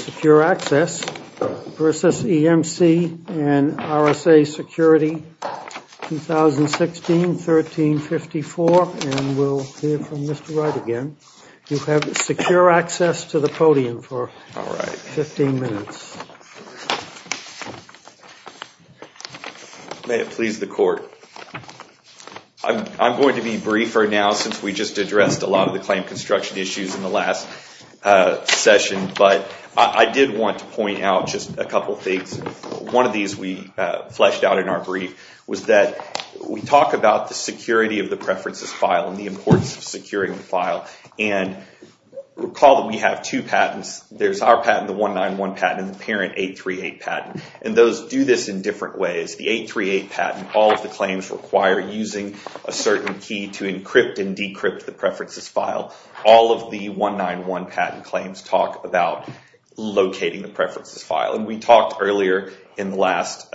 Secure Access, LLC v. EMC Corporation RSA Security, 2016-1354. And we'll hear from Mr. Wright again. You have secure access to the podium for 15 minutes. May it please the court. I'm going to be briefer now, since we just addressed a lot of the claim construction issues in the last session. But I did want to point out just a couple of things. One of these we fleshed out in our brief was that we talk about the security of the preferences file and the importance of securing the file. And recall that we have two patents. There's our patent, the 191 patent, and the parent 838 patent. And those do this in different ways. The 838 patent, all of the claims require using a certain key to encrypt and decrypt the preferences file. All of the 191 patent claims talk about locating the preferences file. And we talked earlier in the last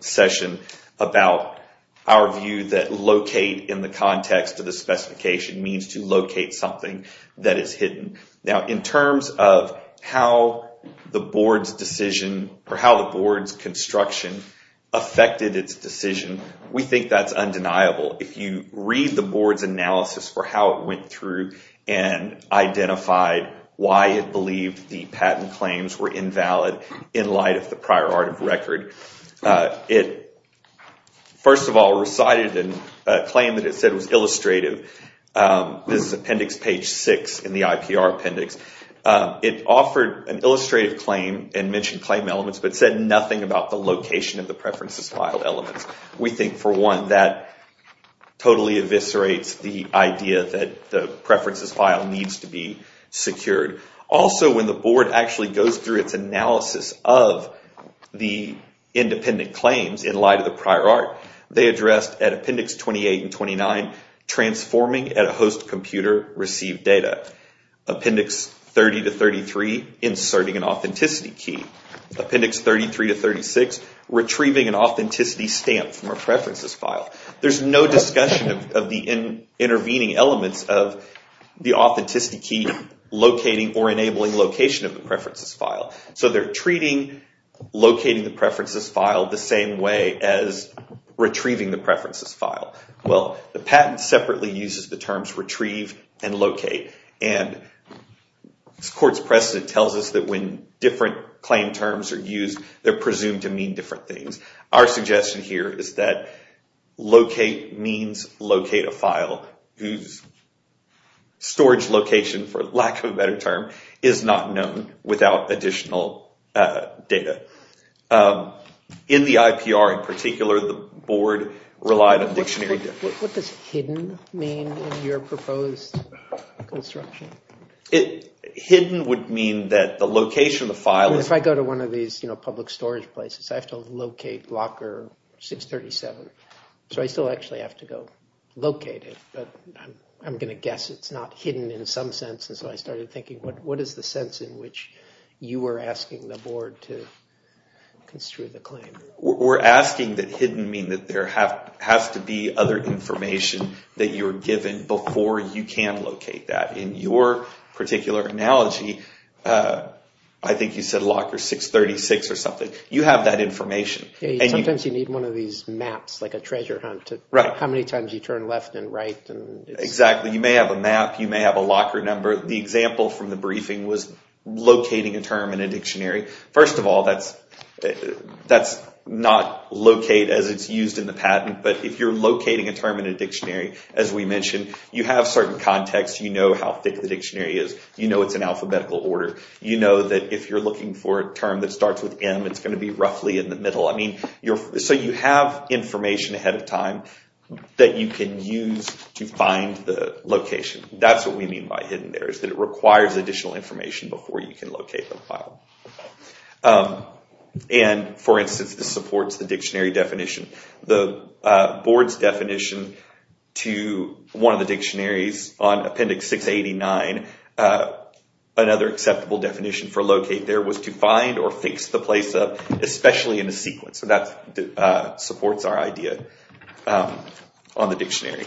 session about our view that locate in the context of the specification means to locate something that is hidden. Now, in terms of how the board's construction affected its decision, we think that's undeniable. If you read the board's analysis for how it went through and identified why it believed the patent claims were in light of the prior art of record, it, first of all, recited a claim that it said was illustrative. This is appendix page 6 in the IPR appendix. It offered an illustrative claim and mentioned claim elements, but said nothing about the location of the preferences file elements. We think, for one, that totally eviscerates the idea that the preferences file needs to be secured. Also, when the board actually goes through its analysis of the independent claims in light of the prior art, they addressed, at appendix 28 and 29, transforming at a host computer received data. Appendix 30 to 33, inserting an authenticity key. Appendix 33 to 36, retrieving an authenticity stamp from a preferences file. There's no discussion of the intervening elements of the authenticity key locating or enabling location of the preferences file. So they're treating locating the preferences file the same way as retrieving the preferences file. Well, the patent separately uses the terms retrieve and locate. And this court's precedent tells us that when different claim terms are used, they're presumed to mean different things. Our suggestion here is that locate means locate a file whose storage location, for lack of a better term, is not known without additional data. In the IPR, in particular, the board relied on dictionary difference. What does hidden mean in your proposed construction? Hidden would mean that the location of the file is. If I go to one of these public storage places, I have to locate locker 637. So I still actually have to go locate it. But I'm going to guess it's not hidden in some sense. And so I started thinking, what is the sense in which you were asking the board to construe the claim? We're asking that hidden mean that there has to be other information that you're given before you can locate that. In your particular analogy, I think you said locker 636 or something. You have that information. Sometimes you need one of these maps, like a treasure hunt. How many times you turn left and right. Exactly. You may have a map. You may have a locker number. The example from the briefing was locating a term in a dictionary. First of all, that's not locate as it's used in the patent. But if you're locating a term in a dictionary, as we mentioned, you have certain context. You know how thick the dictionary is. You know it's in alphabetical order. You know that if you're looking for a term that starts with M, it's going to be roughly in the middle. So you have information ahead of time that you can use to find the location. That's what we mean by hidden there, is that it requires additional information before you can locate the file. And for instance, this supports the dictionary definition. The board's definition to one of the dictionaries on appendix 689, another acceptable definition for locate there was to find or fix the place up, especially in a sequence. So that supports our idea on the dictionary.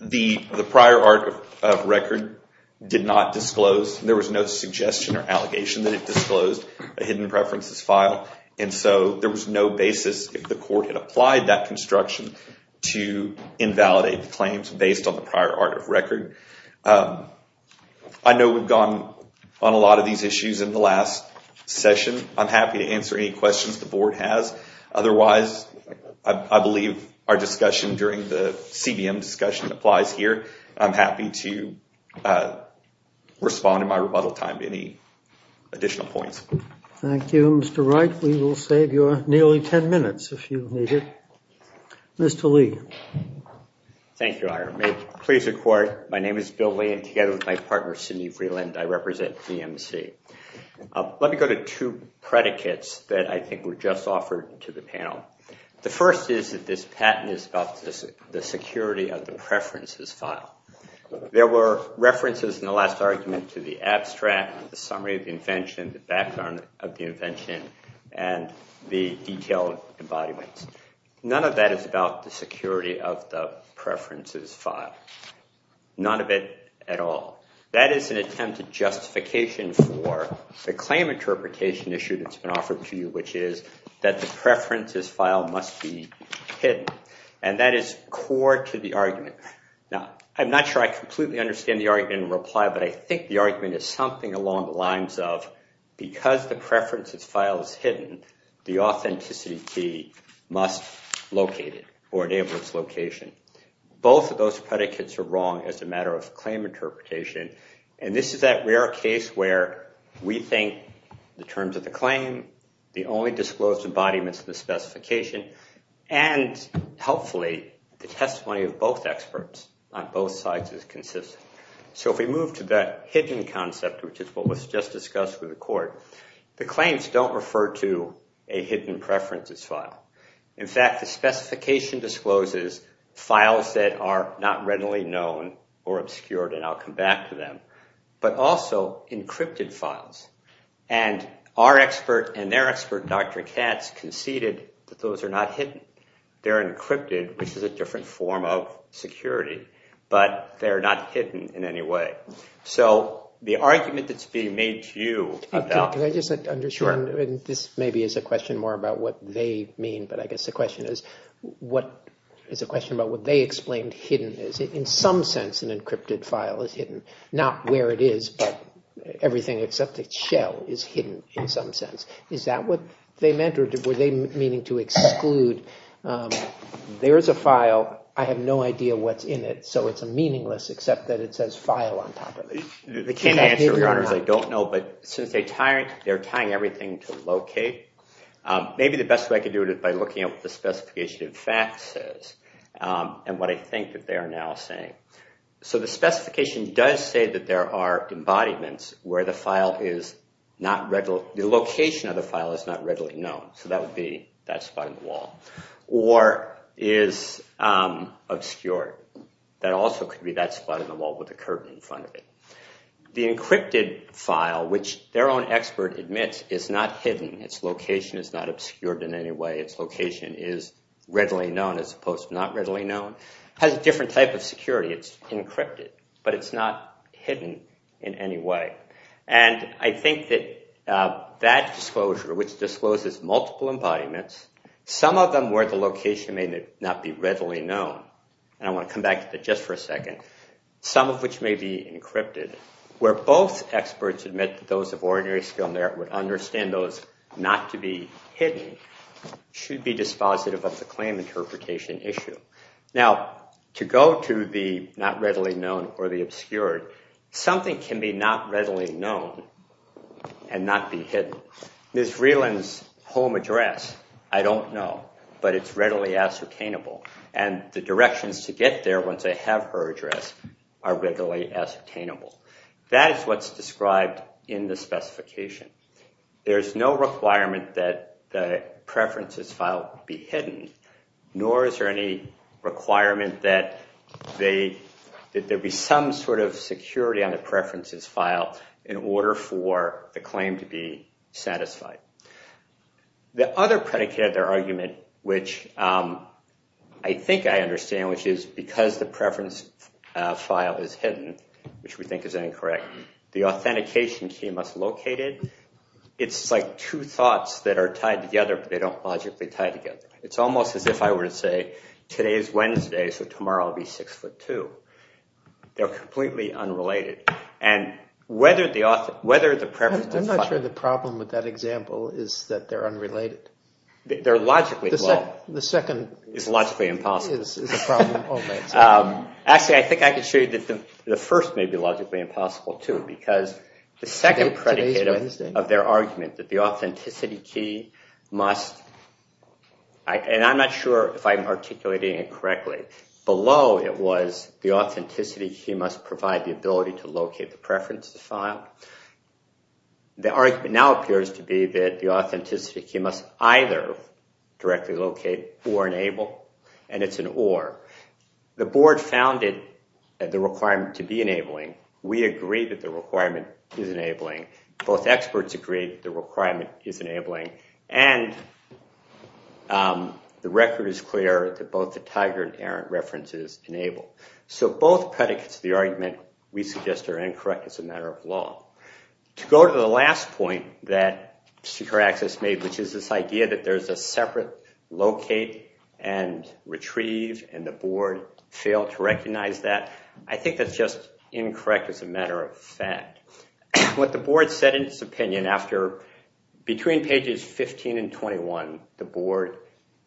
The prior art of record did not disclose. There was no suggestion or allegation that it disclosed a hidden preferences file. And so there was no basis if the court had applied that construction to invalidate the claims based on the prior art of record. I know we've gone on a lot of these issues in the last session. I'm happy to answer any questions the board has. Otherwise, I believe our discussion during the CBM discussion applies here. I'm happy to respond in my rebuttal time to any additional points. Thank you, Mr. Wright. We will save you nearly 10 minutes if you need it. Mr. Lee. Thank you, Your Honor. Please record. My name is Bill Lee. And together with my partner, Sidney Freeland, I represent DMC. Let me go to two predicates that I think were just offered to the panel. The first is that this patent is about the security of the preferences file. There were references in the last argument to the abstract, the summary of the invention, the background of the invention, and the detailed embodiments. None of that is about the security of the preferences file, none of it at all. That is an attempt to justification for the claim interpretation issue that's been offered to you, which is that the preferences file must be hidden. And that is core to the argument. Now, I'm not sure I completely understand the argument in reply. But I think the argument is something along the lines of, because the preferences file is hidden, the authenticity key must locate it or enable its location. Both of those predicates are wrong as a matter of claim interpretation. And this is that rare case where we think the terms of the claim, the only disclosed embodiments of the specification, and, hopefully, the testimony of both experts on both sides is consistent. So if we move to that hidden concept, which is what was just discussed with the court, the claims don't refer to a hidden preferences file. In fact, the specification discloses files that are not readily known or obscured. And I'll come back to them. But also, encrypted files. And our expert and their expert, Dr. Katz, conceded that those are not hidden. They're encrypted, which is a different form of security. But they're not hidden in any way. So the argument that's being made to you about it. Can I just understand? This maybe is a question more about what they mean. But I guess the question is, what is a question about what they explained hidden is. In some sense, an encrypted file is hidden. Not where it is, but everything except its shell is hidden in some sense. Is that what they meant? Or were they meaning to exclude, there is a file. I have no idea what's in it. So it's a meaningless, except that it says file on top of it. They can't answer, Your Honors. I don't know. But since they're tying everything to locate, maybe the best way I could do it is by looking at what the specification of fact says. And what I think that they are now saying. So the specification does say that there are embodiments where the location of the file is not readily known. So that would be that spot on the wall. Or is obscured. That also could be that spot on the wall with a curtain in front of it. The encrypted file, which their own expert admits, is not hidden. Its location is not obscured in any way. Its location is readily known as opposed to not readily known. Has a different type of security. It's encrypted. But it's not hidden in any way. And I think that that disclosure, which discloses multiple embodiments, some of them where the location may not be readily known. And I want to come back to that just for a second. Some of which may be encrypted. Where both experts admit that those of ordinary skill would understand those not to be hidden should be dispositive of the claim interpretation issue. Now, to go to the not readily known or the obscured, something can be not readily known and not be hidden. Ms. Vreeland's home address, I don't know. But it's readily ascertainable. And the directions to get there once they have her address are readily ascertainable. That is what's described in the specification. There is no requirement that the preferences file be hidden. Nor is there any requirement that there be some sort of security on the preferences file in order for the claim to be satisfied. The other predicate of their argument, which I think I understand, which is because the preference file is hidden, which we think is incorrect. The authentication key must locate it. It's like two thoughts that are tied together, but they don't logically tie together. It's almost as if I were to say, today is Wednesday, so tomorrow I'll be six foot two. They're completely unrelated. And whether the preferences file- I'm not sure the problem with that example is that they're unrelated. They're logically well. The second- Is logically impossible. Is a problem. Actually, I think I can show you that the first may be logically impossible, too. Because the second predicate of their argument that the authenticity key must- and I'm not sure if I'm articulating it correctly. Below it was the authenticity key must provide the ability to locate the preferences file. The argument now appears to be that the authenticity key must either directly locate or enable. And it's an or. The board founded the requirement to be enabling. We agree that the requirement is enabling. Both experts agree that the requirement is enabling. And the record is clear that both the Tiger and Errant references enable. So both predicates of the argument we suggest are incorrect as a matter of law. To go to the last point that Secure Access made, which is this idea that there's a separate locate and retrieve, and the board failed to recognize that, I think that's just incorrect as a matter of fact. What the board said in its opinion after- between pages 15 and 21, the board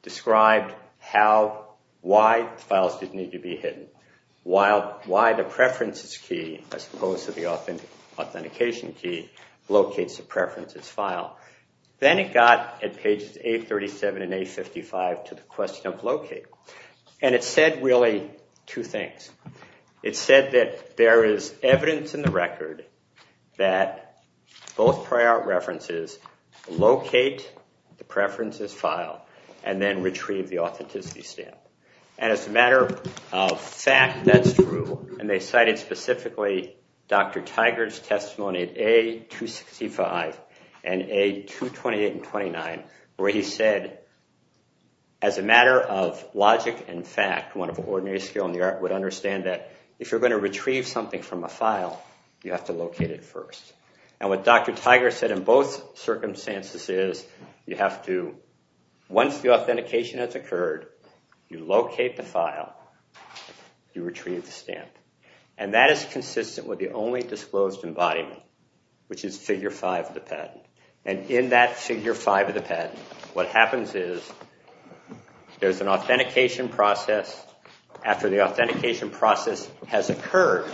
described how- why files didn't need to be hidden. Why the preferences key, as opposed to the authentication key, locates the preferences file. Then it got, at pages 837 and 855, to the question of locate. And it said, really, two things. It said that there is evidence in the record that both prior references locate the preferences file and then retrieve the authenticity stamp. And as a matter of fact, that's true. And they cited specifically Dr. Tiger's testimony at A265 and A228 and 29, where he said, as a matter of logic and fact, one of the ordinary skill in the art would understand that if you're going to retrieve something from a file, you have to locate it first. And what Dr. Tiger said in both circumstances is you have to, once the authentication has occurred, you locate the file, you retrieve the stamp. And that is consistent with the only disclosed embodiment, which is figure 5 of the patent. And in that figure 5 of the patent, what happens is there's an authentication process. After the authentication process has occurred,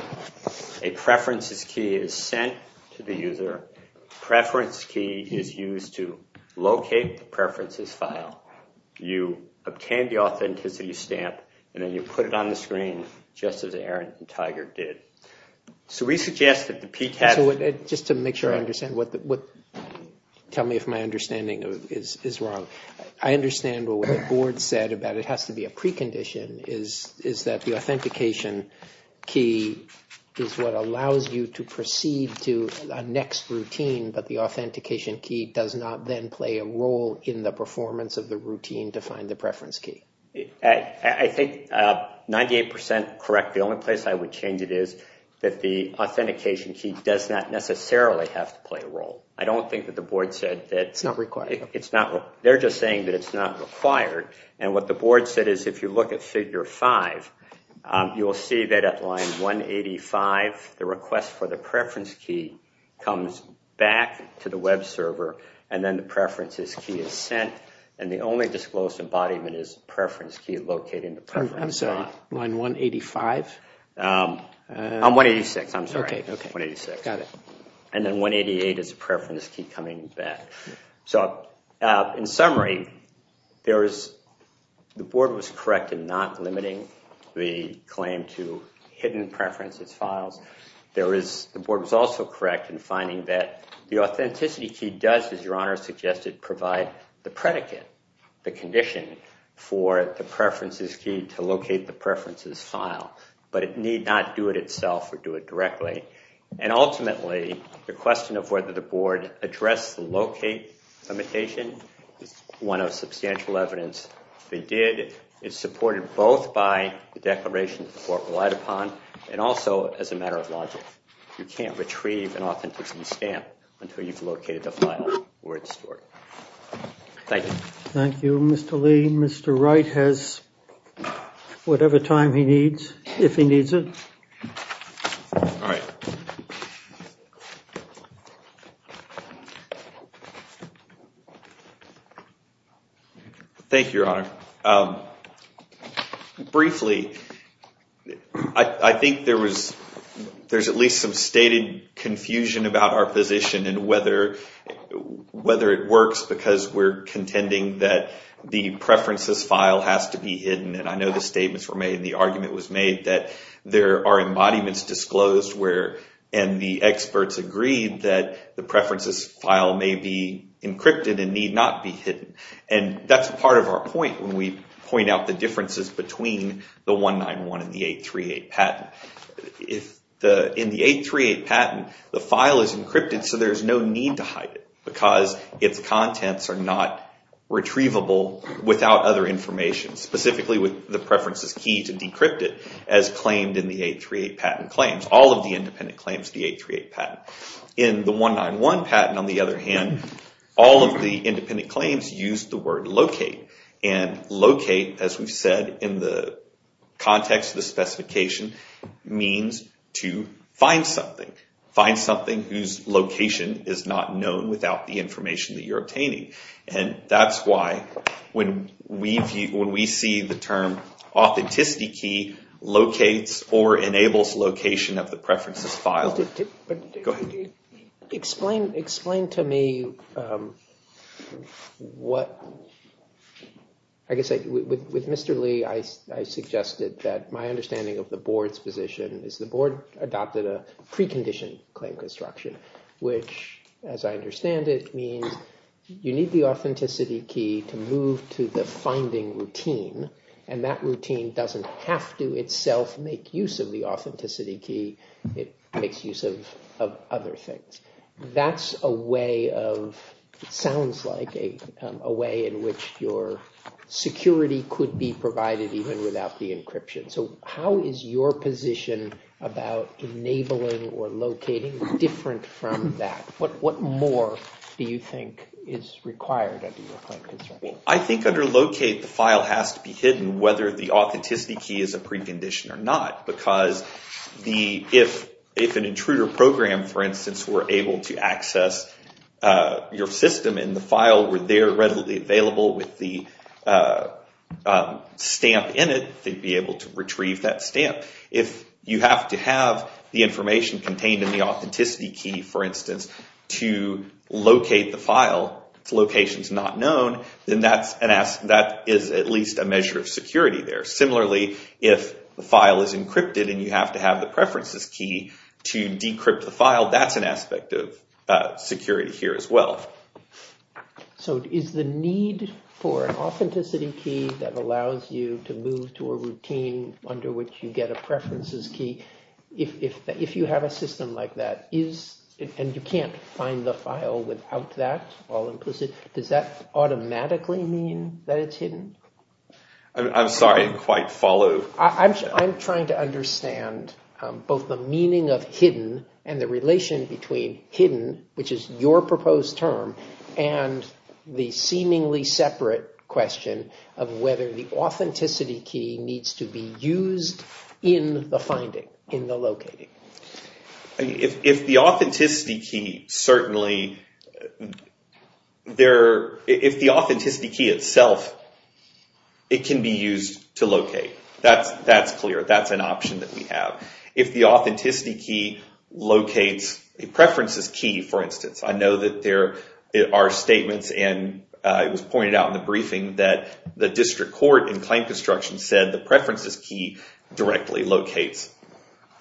a preferences key is sent to the user. Preference key is used to locate the preferences file. You obtain the authenticity stamp, and then you put it on the screen, just as Aaron and Tiger did. So we suggest that the PTAS would Just to make sure I understand, tell me if my understanding is wrong. I understand what the board said about it has to be a precondition is that the authentication key is what allows you to proceed to the next routine, but the authentication key does not then play a role in the performance of the routine to find the preference key. I think 98% correct. The only place I would change it is that the authentication key does not necessarily have to play a role. I don't think that the board said that it's not required. They're just saying that it's not required. And what the board said is if you look at figure 5, you will see that at line 185, the request for the preference key comes back to the web server, and then the preferences key is sent. And the only disclosed embodiment is the preference key located in the preference file. I'm sorry, line 185? On 186, I'm sorry, 186. And then 188 is the preference key coming back. So in summary, the board was correct in not limiting the claim to hidden preferences files. The board was also correct in finding that the authenticity key does, as your honor suggested, provide the predicate, the condition, for the preferences key to locate the preferences file. But it need not do it itself or do it directly. And ultimately, the question of whether the board addressed the locate limitation is one of substantial evidence they did. It's supported both by the declaration that the board relied upon, and also as a matter of logic. You can't retrieve an authenticity stamp until you've located the file where it's stored. Thank you. Thank you, Mr. Lee. Mr. Wright has whatever time he needs, if he needs it. Thank you, your honor. Briefly, I think there's at least some stated confusion about our position and whether it works, because we're contending that the preferences file has to be hidden. And I know the statements were made, and the argument was made that there are embodiments disclosed, and the experts agreed that the preferences file may be encrypted and need not be hidden. And that's part of our point when we point out the differences between the 191 and the 838 patent. In the 838 patent, the file is encrypted, so there's no need to hide it, because its contents are not retrievable without other information, specifically with the preferences key to decrypt it, as claimed in the 838 patent claims. All of the independent claims, the 838 patent. In the 191 patent, on the other hand, all of the independent claims use the word locate. And locate, as we've said in the context of the specification, means to find something. Find something whose location is not known without the information that you're obtaining. And that's why when we see the term authenticity key, locates or enables location of the preferences file. But explain to me what, I guess, with Mr. Lee, I suggested that my understanding of the board's position is the board adopted a preconditioned claim construction, which, as I understand it, means you need the authenticity key to move to the finding routine. And that routine doesn't have to itself make use of the authenticity key. It makes use of other things. That's a way of, it sounds like, a way in which your security could be provided even without the encryption. So how is your position about enabling or locating different from that? What more do you think is required under your claim construction? I think under locate, the file has to be hidden, whether the authenticity key is a precondition or not. Because if an intruder program, for instance, were able to access your system and the file were there readily available with the stamp in it, they'd be able to retrieve that stamp. If you have to have the information contained in the authenticity key, for instance, to locate the file to locations not known, then that is at least a measure of security there. Similarly, if the file is encrypted and you have to have the preferences key to decrypt the file, that's an aspect of security here as well. So is the need for an authenticity key that allows you to move to a routine under which you get a preferences key, if you have a system like that, and you can't find the file without that, all implicit, does that automatically mean that it's hidden? I'm sorry, I didn't quite follow. I'm trying to understand both the meaning of hidden and the relation between hidden, which is your proposed term, and the seemingly separate question of whether the authenticity key needs to be used in the finding, in the locating. If the authenticity key, certainly, if the authenticity key itself, it can be used to locate. That's clear. That's an option that we have. If the authenticity key locates a preferences key, for instance, I know that there are statements, and it was pointed out in the briefing that the district court in claim construction said the preferences key directly locates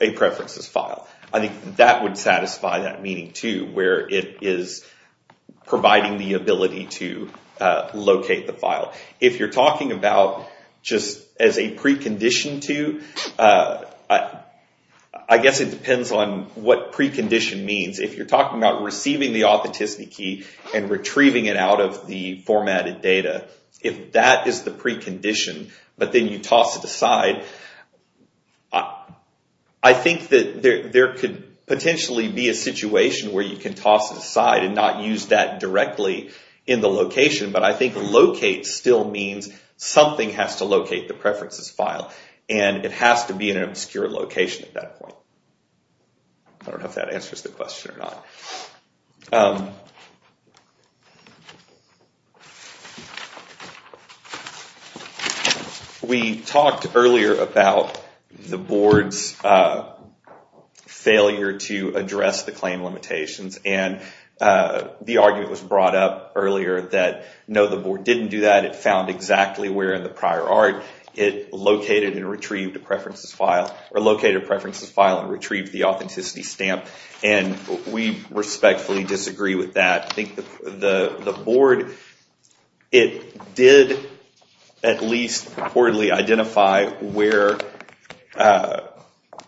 a preferences file. I think that would satisfy that meaning, too, where it is providing the ability to locate the file. If you're talking about just as a precondition to, I guess it depends on what precondition means. If you're talking about receiving the authenticity key and retrieving it out of the formatted data, if that is the precondition, but then you toss it aside, I think that there could potentially be a situation where you can toss it aside and not use that directly in the location. But I think locate still means something has to locate the preferences file, and it has to be in an obscure location at that point. I don't know if that answers the question or not. We talked earlier about the board's failure to address the claim limitations. And the argument was brought up earlier that no, the board didn't do that. It found exactly where in the prior art it located and retrieved a preferences file, or located a preferences file and retrieved the authenticity stamp. And we respectfully disagree with that. I think the board, it did at least reportedly identify where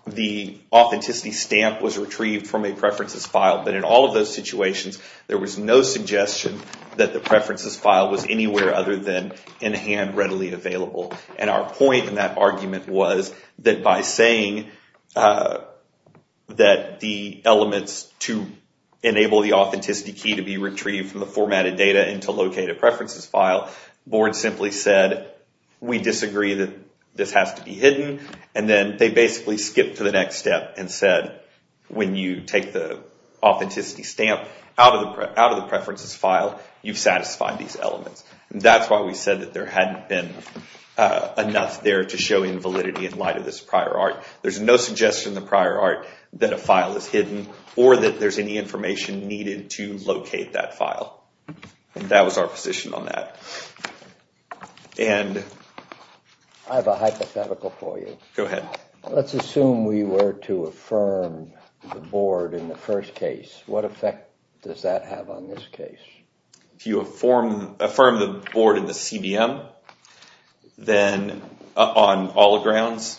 the authenticity stamp was retrieved from a preferences file. But in all of those situations, there was no suggestion that the preferences file was anywhere other than in hand readily available. And our point in that argument was that by saying that the elements to enable the authenticity key to be retrieved from the formatted data and to locate a preferences file, board simply said, we disagree that this has to be hidden. And then they basically skipped to the next step and said, when you take the authenticity stamp out of the preferences file, you've satisfied these elements. And that's why we said that there hadn't been enough there to show invalidity in light of this prior art. There's no suggestion in the prior art that a file is hidden or that there's any information needed to locate that file. That was our position on that. And I have a hypothetical for you. Go ahead. Let's assume we were to affirm the board in the first case. What effect does that have on this case? If you affirm the board in the CVM, then on all grounds.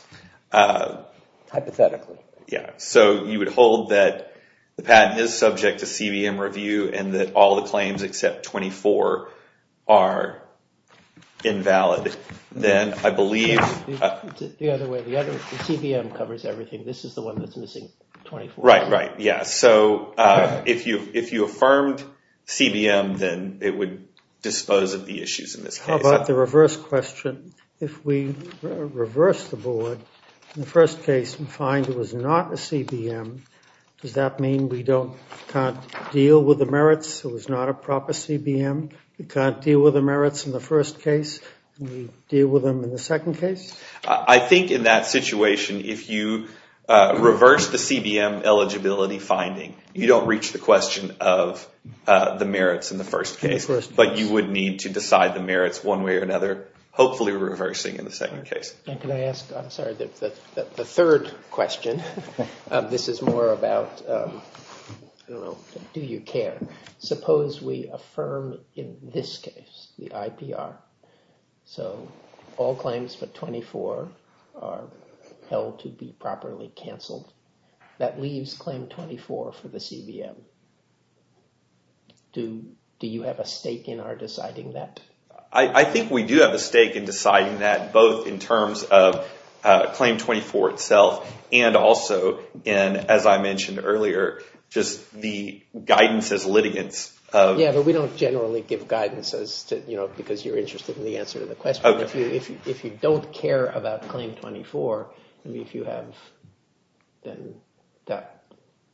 Hypothetically. Yeah, so you would hold that the patent is subject to CVM review and that all the claims except 24 are invalid, then I believe. The other way, the CVM covers everything. This is the one that's missing 24. Right, right, yeah. So if you affirmed CVM, then it would dispose of the issues in this case. How about the reverse question? If we reverse the board in the first case and find it was not a CVM, does that mean we can't deal with the merits? It was not a proper CVM. We can't deal with the merits in the first case. We deal with them in the second case? I think in that situation, if you reverse the CVM eligibility finding, you don't reach the question of the merits in the first case. But you would need to decide the merits one way or another, hopefully reversing in the second case. Can I ask, I'm sorry, the third question. This is more about, I don't know, do you care? Suppose we affirm, in this case, the IPR. So all claims but 24 are held to be properly canceled. That leaves claim 24 for the CVM. Do you have a stake in our deciding that? I think we do have a stake in deciding that, both in terms of claim 24 itself, and also in, as I mentioned earlier, just the guidance as litigants. Yeah, but we don't generally give guidance because you're interested in the answer to the question. If you don't care about claim 24, if you have,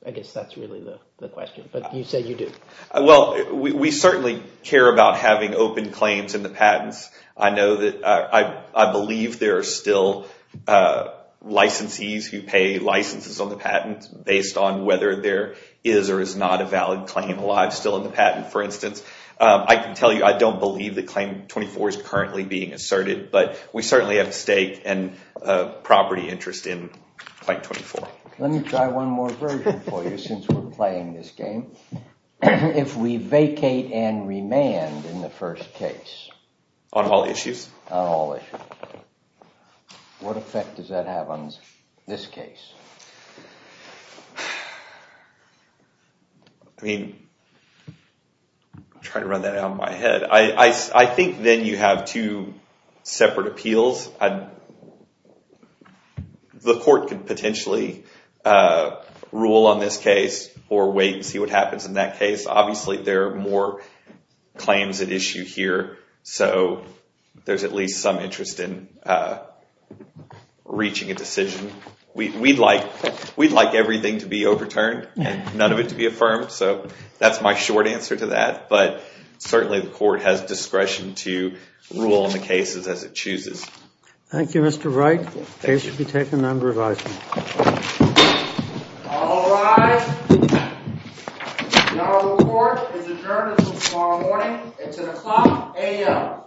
I guess that's really the question. But you said you do. Well, we certainly care about having open claims in the patents. I know that I believe there are still licensees who pay licenses on the patents based on whether there is or is not a valid claim alive still in the patent, for instance. I can tell you I don't believe that claim 24 is currently being asserted. But we certainly have a stake and property interest in claim 24. Let me try one more version for you since we're playing this game. If we vacate and remand in the first case. On all issues? On all issues. What effect does that have on this case? I mean, I'm trying to run that out of my head. I think then you have two separate appeals. The court could potentially rule on this case or wait and see what happens in that case. Obviously, there are more claims at issue here. So there's at least some interest in reaching a decision. We'd like everything to be overturned and none of it to be affirmed. So that's my short answer to that. But certainly, the court has discretion to rule on the cases as it chooses. Thank you, Mr. Wright. Case should be taken under advisement. All rise. Now the court is adjourned until tomorrow morning. It's 10 o'clock a.m.